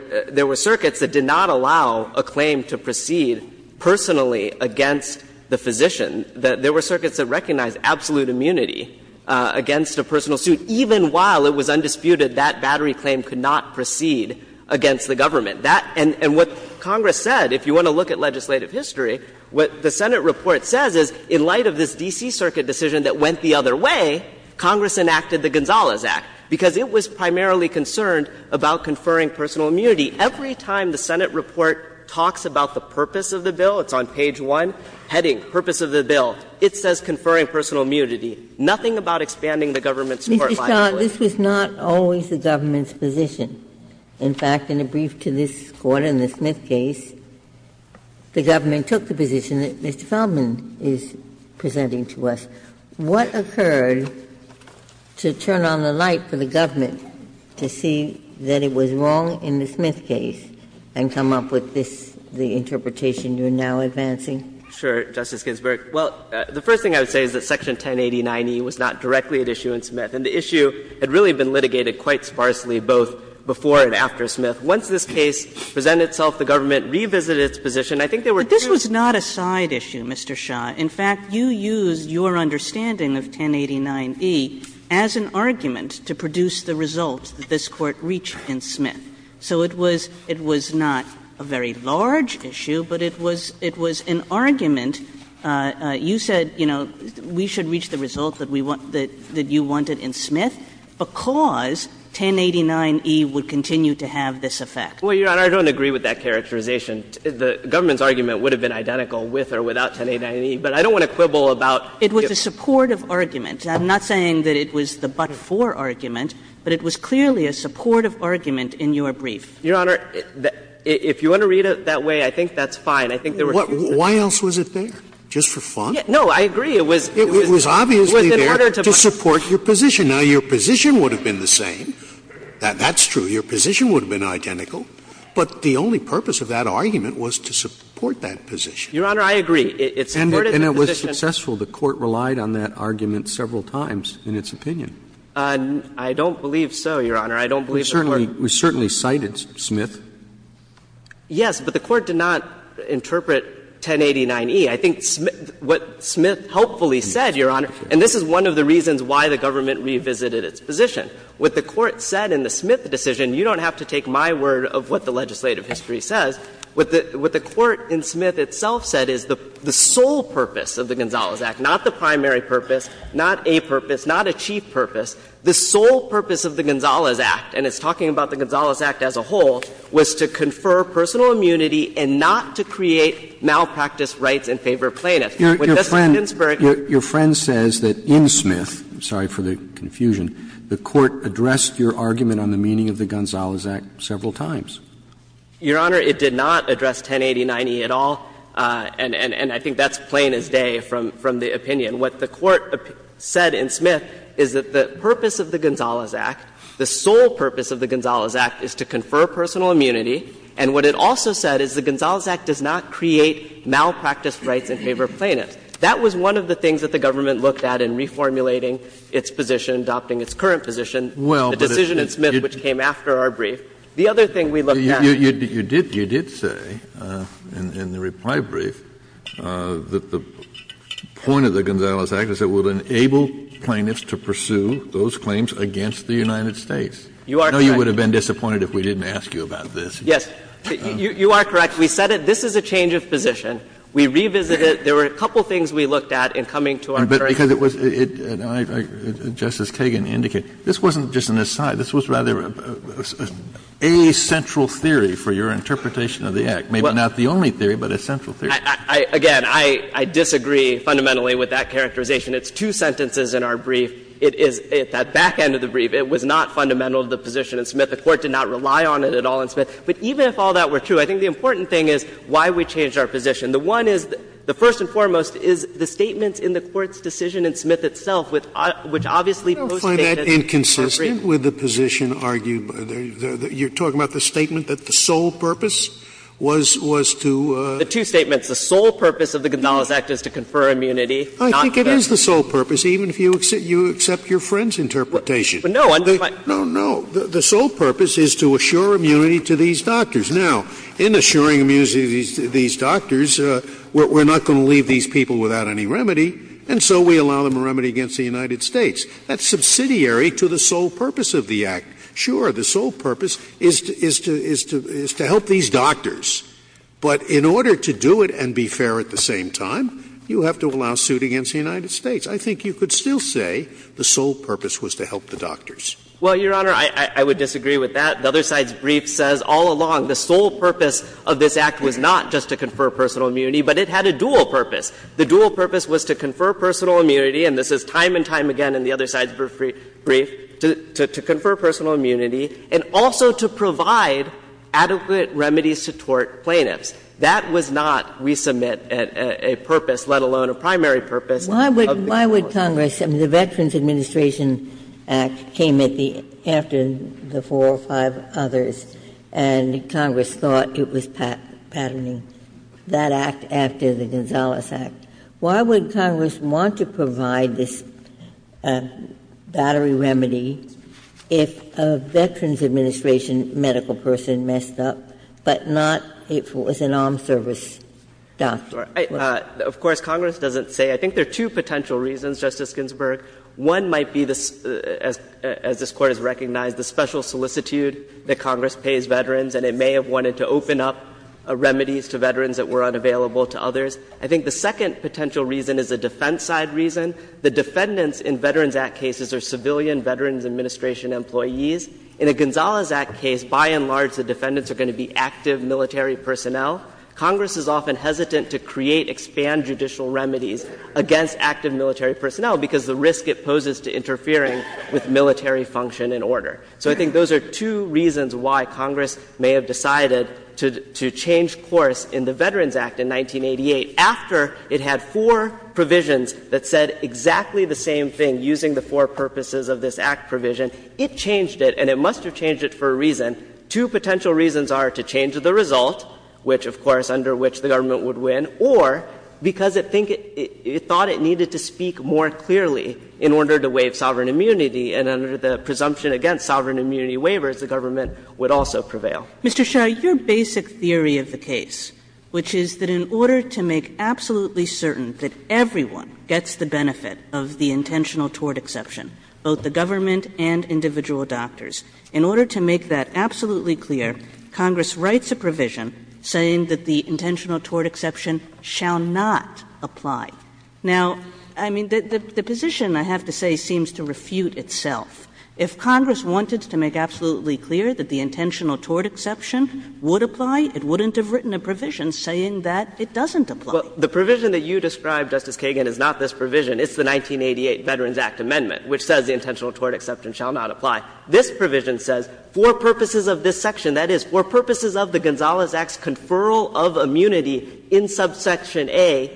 circuits that did not allow a claim to proceed personally against the physician. There were circuits that recognized absolute immunity against a personal suit, even while it was undisputed that battery claim could not proceed against the government. And what Congress said, if you want to look at legislative history, what the Senate report says is in light of this D.C. Circuit decision that went the other way, Congress enacted the Gonzales Act, because it was primarily concerned about conferring personal immunity. Every time the Senate report talks about the purpose of the bill, it's on page 1, heading, purpose of the bill, it says conferring personal immunity. Nothing about expanding the government's court liability. Ginsburg. This was not always the government's position. In fact, in a brief to this Court in the Smith case, the government took the position that Mr. Feldman is presenting to us. What occurred to turn on the light for the government to see that it was wrong in the Smith case and come up with this, the interpretation you're now advancing? Sure, Justice Ginsburg. Well, the first thing I would say is that Section 1080-90 was not directly at issue in Smith, and the issue had really been litigated quite sparsely both before and after Smith. Once this case presented itself, the government revisited its position. I think there were two. But this was not a side issue, Mr. Shah. In fact, you used your understanding of 1080-9e as an argument to produce the result that this Court reached in Smith. So it was not a very large issue, but it was an argument. You said, you know, we should reach the result that we want, that you wanted in Smith because 1080-9e would continue to have this effect. Well, Your Honor, I don't agree with that characterization. The government's argument would have been identical with or without 1080-9e, but I don't want to quibble about the other two. It was a supportive argument. I'm not saying that it was the but-for argument, but it was clearly a supportive argument in your brief. Your Honor, if you want to read it that way, I think that's fine. I think there were a few differences. Why else was it there? Just for fun? No, I agree. It was in order to support your position. Now, your position would have been the same. That's true. Your position would have been identical. But the only purpose of that argument was to support that position. Your Honor, I agree. It supported the position. And it was successful. The Court relied on that argument several times in its opinion. I don't believe so, Your Honor. I don't believe the Court. We certainly cited Smith. Yes, but the Court did not interpret 1080-9e. I think what Smith hopefully said, Your Honor, and this is one of the reasons why the government revisited its position. What the Court said in the Smith decision, you don't have to take my word of what the legislative history says. What the Court in Smith itself said is the sole purpose of the Gonzales Act, not the primary purpose, not a purpose, not a chief purpose, the sole purpose of the Gonzales Act, and it's talking about the Gonzales Act as a whole, was to confer personal immunity and not to create malpractice rights in favor of plaintiffs. Your friend says that in Smith, I'm sorry for the confusion, the Court addressed your argument on the meaning of the Gonzales Act several times. Your Honor, it did not address 1080-9e at all, and I think that's plain as day from the opinion. What the Court said in Smith is that the purpose of the Gonzales Act, the sole purpose of the Gonzales Act, is to confer personal immunity, and what it also said is the That was one of the things that the government looked at in reformulating its position, adopting its current position, the decision in Smith which came after our brief. The other thing we looked at was that the purpose of the Gonzales Act, the sole purpose of the Gonzales Act, is to confer personal immunity, and what it also said is the point of the Gonzales Act is that it would enable plaintiffs to pursue those claims against the United States. I know you would have been disappointed if we didn't ask you about this. Yes. You are correct. We said it. This is a change of position. We revisited it. There were a couple of things we looked at in coming to our current position. But because it was — Justice Kagan indicated, this wasn't just an aside. This was rather a central theory for your interpretation of the Act, maybe not the only theory, but a central theory. Again, I disagree fundamentally with that characterization. It's two sentences in our brief. It is — at that back end of the brief, it was not fundamental to the position in Smith. The Court did not rely on it at all in Smith. But even if all that were true, I think the important thing is why we changed our position. The one is — the first and foremost is the statements in the Court's decision in Smith itself, which obviously most States disagree with. I don't find that inconsistent with the position argued by the — you're talking about the statement that the sole purpose was — was to — The two statements, the sole purpose of the Gonzales Act is to confer immunity, not to get — I think it is the sole purpose, even if you accept your friend's interpretation. No. No, no, the sole purpose is to assure immunity to these doctors. Now, in assuring immunity to these doctors, we're not going to leave these people without any remedy, and so we allow them a remedy against the United States. That's subsidiary to the sole purpose of the Act. Sure, the sole purpose is to — is to — is to help these doctors, but in order to do it and be fair at the same time, you have to allow suit against the United States. I think you could still say the sole purpose was to help the doctors. Well, Your Honor, I would disagree with that. The other side's brief says all along the sole purpose of this Act was not just to confer personal immunity, but it had a dual purpose. The dual purpose was to confer personal immunity, and this is time and time again in the other side's brief, to confer personal immunity, and also to provide adequate remedies to tort plaintiffs. That was not, we submit, a purpose, let alone a primary purpose of the Act. Ginsburg. Why would Congress — the Veterans Administration Act came at the — after the four or five others, and Congress thought it was patterning that Act after the Gonzales Act. Why would Congress want to provide this battery remedy if a Veterans Administration medical person messed up, but not if it was an armed service doctor? Of course, Congress doesn't say. I think there are two potential reasons, Justice Ginsburg. One might be, as this Court has recognized, the special solicitude that Congress pays veterans, and it may have wanted to open up remedies to veterans that were unavailable to others. I think the second potential reason is a defense side reason. The defendants in Veterans Act cases are civilian Veterans Administration employees. In a Gonzales Act case, by and large, the defendants are going to be active military personnel. Congress is often hesitant to create, expand judicial remedies against active military personnel because of the risk it poses to interfering with military function and order. So I think those are two reasons why Congress may have decided to change course in the Veterans Act in 1988, after it had four provisions that said exactly the same thing using the four purposes of this Act provision. It changed it, and it must have changed it for a reason. Two potential reasons are to change the result, which of course under which the government would win, or because it thought it needed to speak more clearly in order to waive sovereign immunity, and under the presumption against sovereign immunity waivers, the government would also prevail. Kagan Mr. Shah, your basic theory of the case, which is that in order to make absolutely certain that everyone gets the benefit of the intentional tort exception, both the if Congress wanted to make absolutely clear Congress writes a provision saying that the intentional tort exception shall not apply. Now, I mean, the position, I have to say, seems to refute itself. If Congress wanted to make absolutely clear that the intentional tort exception would apply, it wouldn't have written a provision saying that it doesn't apply. Shah Well, the provision that you described, Justice Kagan, is not this provision. It's the 1988 Veterans Act amendment, which says the intentional tort exception shall not apply. This provision says for purposes of this section, that is, for purposes of the Gonzales Act's conferral of immunity in subsection A,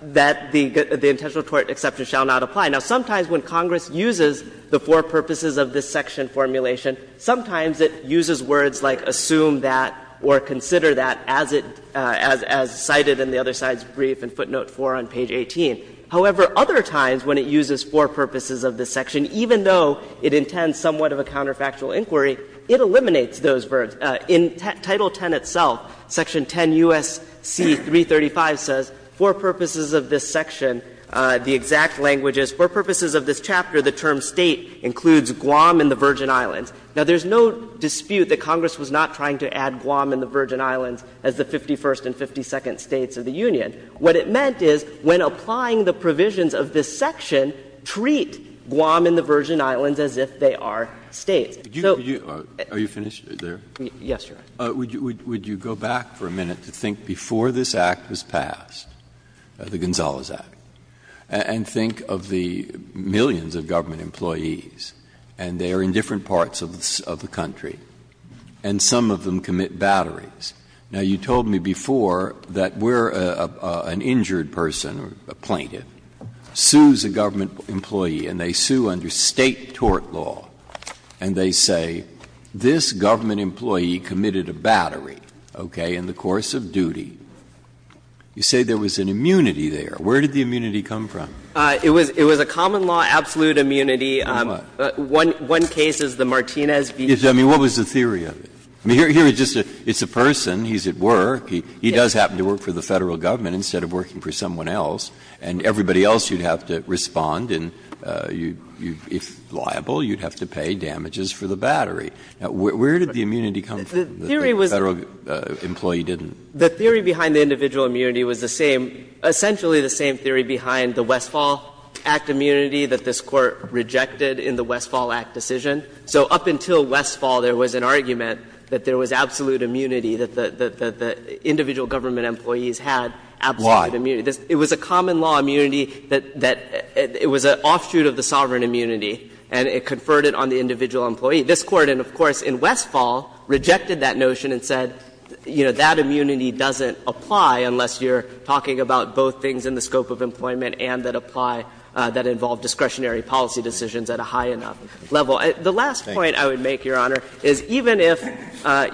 that the intentional tort exception shall not apply. Now, sometimes when Congress uses the for purposes of this section formulation, sometimes it uses words like assume that or consider that as it as cited in the other side's brief in footnote 4 on page 18. However, other times when it uses for purposes of this section, even though it intends somewhat of a counterfactual inquiry, it eliminates those words. In Title X itself, section 10 U.S.C. 335 says for purposes of this section, the exact language is for purposes of this chapter, the term State includes Guam and the Virgin Islands. Now, there's no dispute that Congress was not trying to add Guam and the Virgin Islands as the 51st and 52nd States of the Union. What it meant is when applying the provisions of this section, treat Guam and the Virgin Islands as if they are States. So you are you finished there? Yes, Your Honor. Would you go back for a minute to think before this Act was passed, the Gonzales Act, and think of the millions of government employees, and they are in different parts of the country, and some of them commit batteries. Now, you told me before that where an injured person, a plaintiff, sues a government employee, and they sue under State tort law, and they say, this government employee committed a battery, okay, in the course of duty. You say there was an immunity there. Where did the immunity come from? It was a common law absolute immunity. One case is the Martinez v. I mean, what was the theory of it? Here it's just a person, he's at work, he does happen to work for the Federal government instead of working for someone else, and everybody else you'd have to respond, and if liable, you'd have to pay damages for the battery. Now, where did the immunity come from that the Federal employee didn't? The theory behind the individual immunity was the same, essentially the same theory behind the Westfall Act immunity that this Court rejected in the Westfall Act decision. So up until Westfall, there was an argument that there was absolute immunity, that the individual government employees had absolute immunity. It was a common law immunity that it was an offshoot of the sovereign immunity, and it conferred it on the individual employee. This Court, and of course in Westfall, rejected that notion and said, you know, that employment and that apply, that involve discretionary policy decisions at a high enough level. The last point I would make, Your Honor, is even if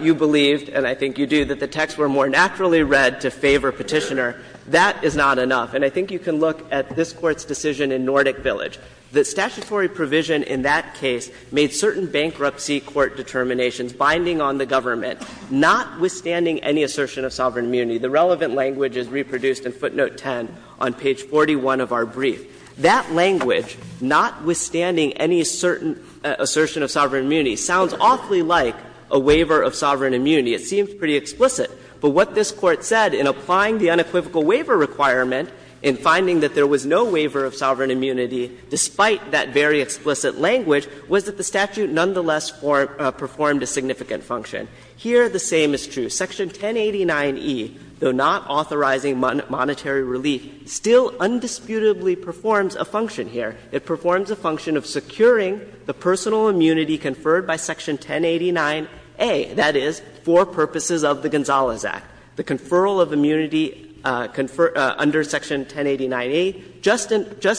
you believed, and I think you do, that the texts were more naturally read to favor Petitioner, that is not enough. And I think you can look at this Court's decision in Nordic Village. The statutory provision in that case made certain bankruptcy court determinations binding on the government, notwithstanding any assertion of sovereign immunity. The relevant language is reproduced in footnote 10 on page 41 of our brief. That language, notwithstanding any certain assertion of sovereign immunity, sounds awfully like a waiver of sovereign immunity. It seems pretty explicit. But what this Court said in applying the unequivocal waiver requirement in finding that there was no waiver of sovereign immunity, despite that very explicit language, was that the statute nonetheless performed a significant function. Here, the same is true. Section 1089e, though not authorizing monetary relief, still undisputably performs a function here. It performs a function of securing the personal immunity conferred by Section 1089a, that is, for purposes of the Gonzalez Act. The conferral of immunity under Section 1089a, just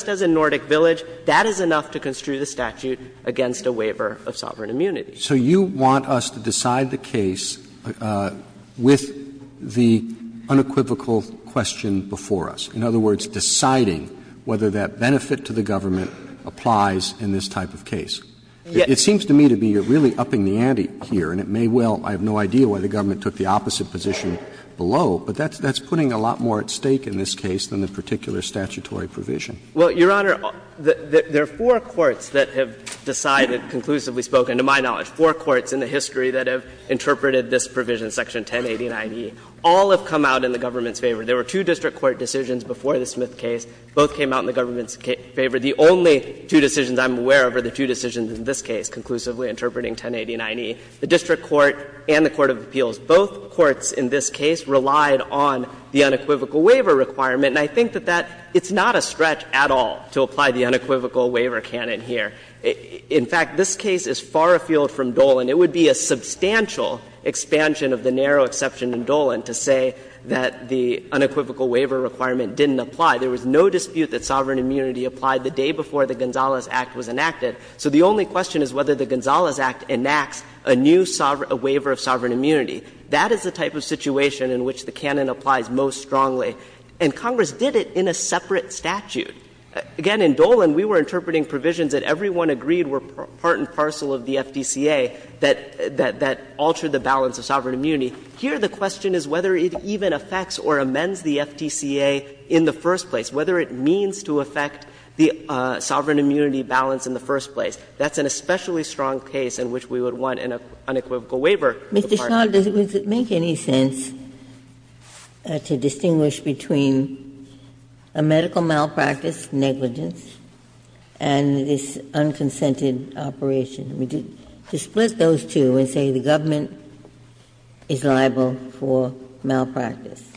as in Nordic Village, that is enough to construe the statute against a waiver of sovereign immunity. Roberts So you want us to decide the case with the unequivocal question before us, in other words, deciding whether that benefit to the government applies in this type of case. It seems to me to be you're really upping the ante here, and it may well be I have no idea why the government took the opposite position below, but that's putting a lot more at stake in this case than the particular statutory provision. Well, Your Honor, there are four courts that have decided, conclusively spoken, to my knowledge, four courts in the history that have interpreted this provision, Section 1089e, all have come out in the government's favor. There were two district court decisions before the Smith case, both came out in the government's favor. The only two decisions I'm aware of are the two decisions in this case, conclusively interpreting 1089e, the district court and the court of appeals. Both courts in this case relied on the unequivocal waiver requirement, and I think that that — it's not a stretch at all to apply the unequivocal waiver canon here. In fact, this case is far afield from Dolan. It would be a substantial expansion of the narrow exception in Dolan to say that the unequivocal waiver requirement didn't apply. There was no dispute that sovereign immunity applied the day before the Gonzales Act was enacted. So the only question is whether the Gonzales Act enacts a new waiver of sovereign immunity. That is the type of situation in which the canon applies most strongly, and Congress did it in a separate statute. Again, in Dolan, we were interpreting provisions that everyone agreed were part and parcel of the FDCA that altered the balance of sovereign immunity. Here, the question is whether it even affects or amends the FDCA in the first place, whether it means to affect the sovereign immunity balance in the first place. That's an especially strong case in which we would want an unequivocal waiver. Ginsburg. Mr. Shah, does it make any sense to distinguish between a medical malpractice negligence and this unconsented operation? To split those two and say the government is liable for malpractice,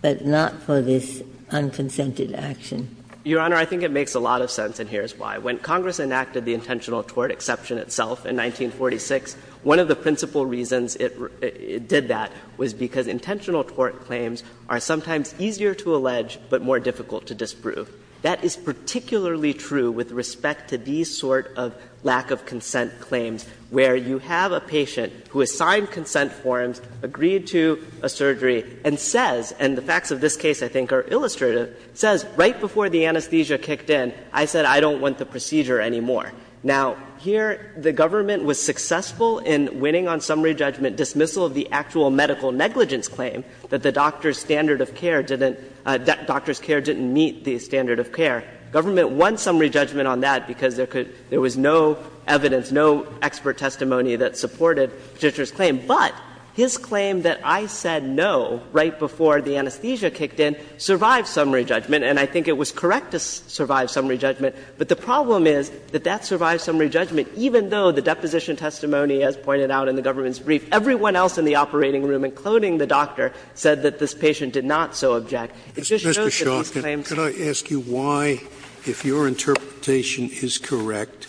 but not for this unconsented action? Your Honor, I think it makes a lot of sense, and here's why. When Congress enacted the intentional tort exception itself in 1946, one of the principal reasons it did that was because intentional tort claims are sometimes easier to allege but more difficult to disprove. That is particularly true with respect to these sort of lack of consent claims, where you have a patient who has signed consent forms, agreed to a surgery, and says — and the facts of this case, I think, are illustrative — says, right before the anesthesia kicked in, I said I don't want the procedure anymore. Now, here the government was successful in winning on summary judgment dismissal of the actual medical negligence claim, that the doctor's standard of care didn't — that doctor's care didn't meet the standard of care. Government won summary judgment on that because there could — there was no evidence, no expert testimony that supported the judge's claim. But his claim that I said no right before the anesthesia kicked in survived summary judgment, and I think it was correct to survive summary judgment. But the problem is that that survived summary judgment, even though the deposition testimony, as pointed out in the government's brief, everyone else in the operating room, including the doctor, said that this patient did not so object. It just shows that these claims are not correct. Scalia, could I ask you why, if your interpretation is correct,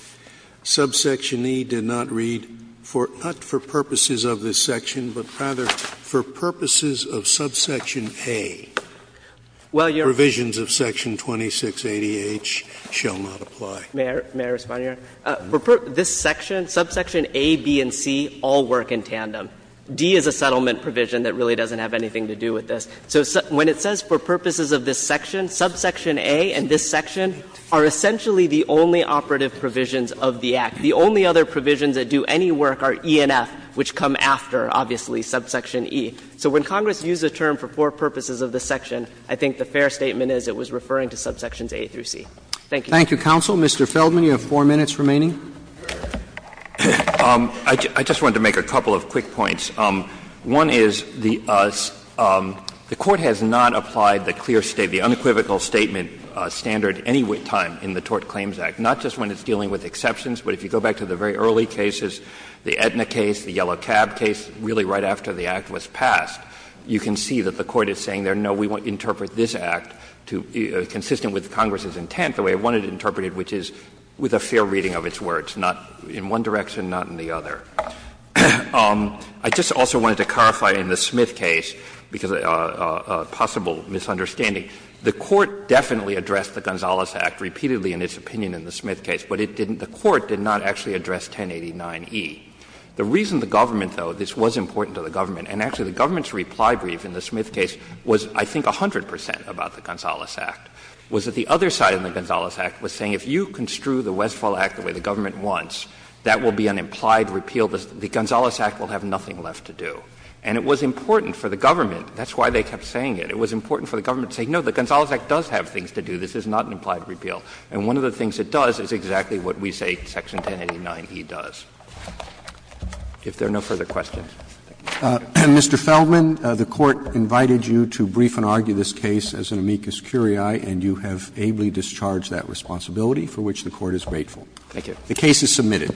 subsection E did not read, not for purposes of this section, but rather for purposes of subsection A, provisions of section 2680H shall not apply? May I respond, Your Honor? This section, subsection A, B, and C all work in tandem. D is a settlement provision that really doesn't have anything to do with this. So when it says for purposes of this section, subsection A and this section are essentially the only operative provisions of the Act. The only other provisions that do any work are E and F, which come after, obviously, subsection E. So when Congress used the term for four purposes of this section, I think the fair statement is it was referring to subsections A through C. Thank you. Roberts. Thank you, counsel. Mr. Feldman, you have four minutes remaining. I just wanted to make a couple of quick points. One is the Court has not applied the clear state, the unequivocal statement standard any time in the Tort Claims Act, not just when it's dealing with exceptions, but if you go back to the very early cases, the Aetna case, the Yellow Cab case, really right after the Act was passed, you can see that the Court is saying there, no, we want to interpret this Act consistent with Congress's intent, the way it wanted to interpret it, which is with a fair reading of its words, not in one direction, not in the other. I just also wanted to clarify in the Smith case, because of a possible misunderstanding. The Court definitely addressed the Gonzales Act repeatedly in its opinion in the Smith case, but it didn't — the Court did not actually address 1089e. The reason the government, though — this was important to the government, and actually the government's reply brief in the Smith case was, I think, 100 percent about the Gonzales Act — was that the other side of the Gonzales Act was saying if you construe the Westphal Act the way the government wants, that will be an implied repeal. The Gonzales Act will have nothing left to do. And it was important for the government — that's why they kept saying it — it was important for the government to say, no, the Gonzales Act does have things to do. This is not an implied repeal. And one of the things it does is exactly what we say section 1089e does. If there are no further questions. Roberts. Mr. Feldman, the Court invited you to brief and argue this case as an amicus curiae, and you have ably discharged that responsibility, for which the Court is grateful. Feldman. The case is submitted.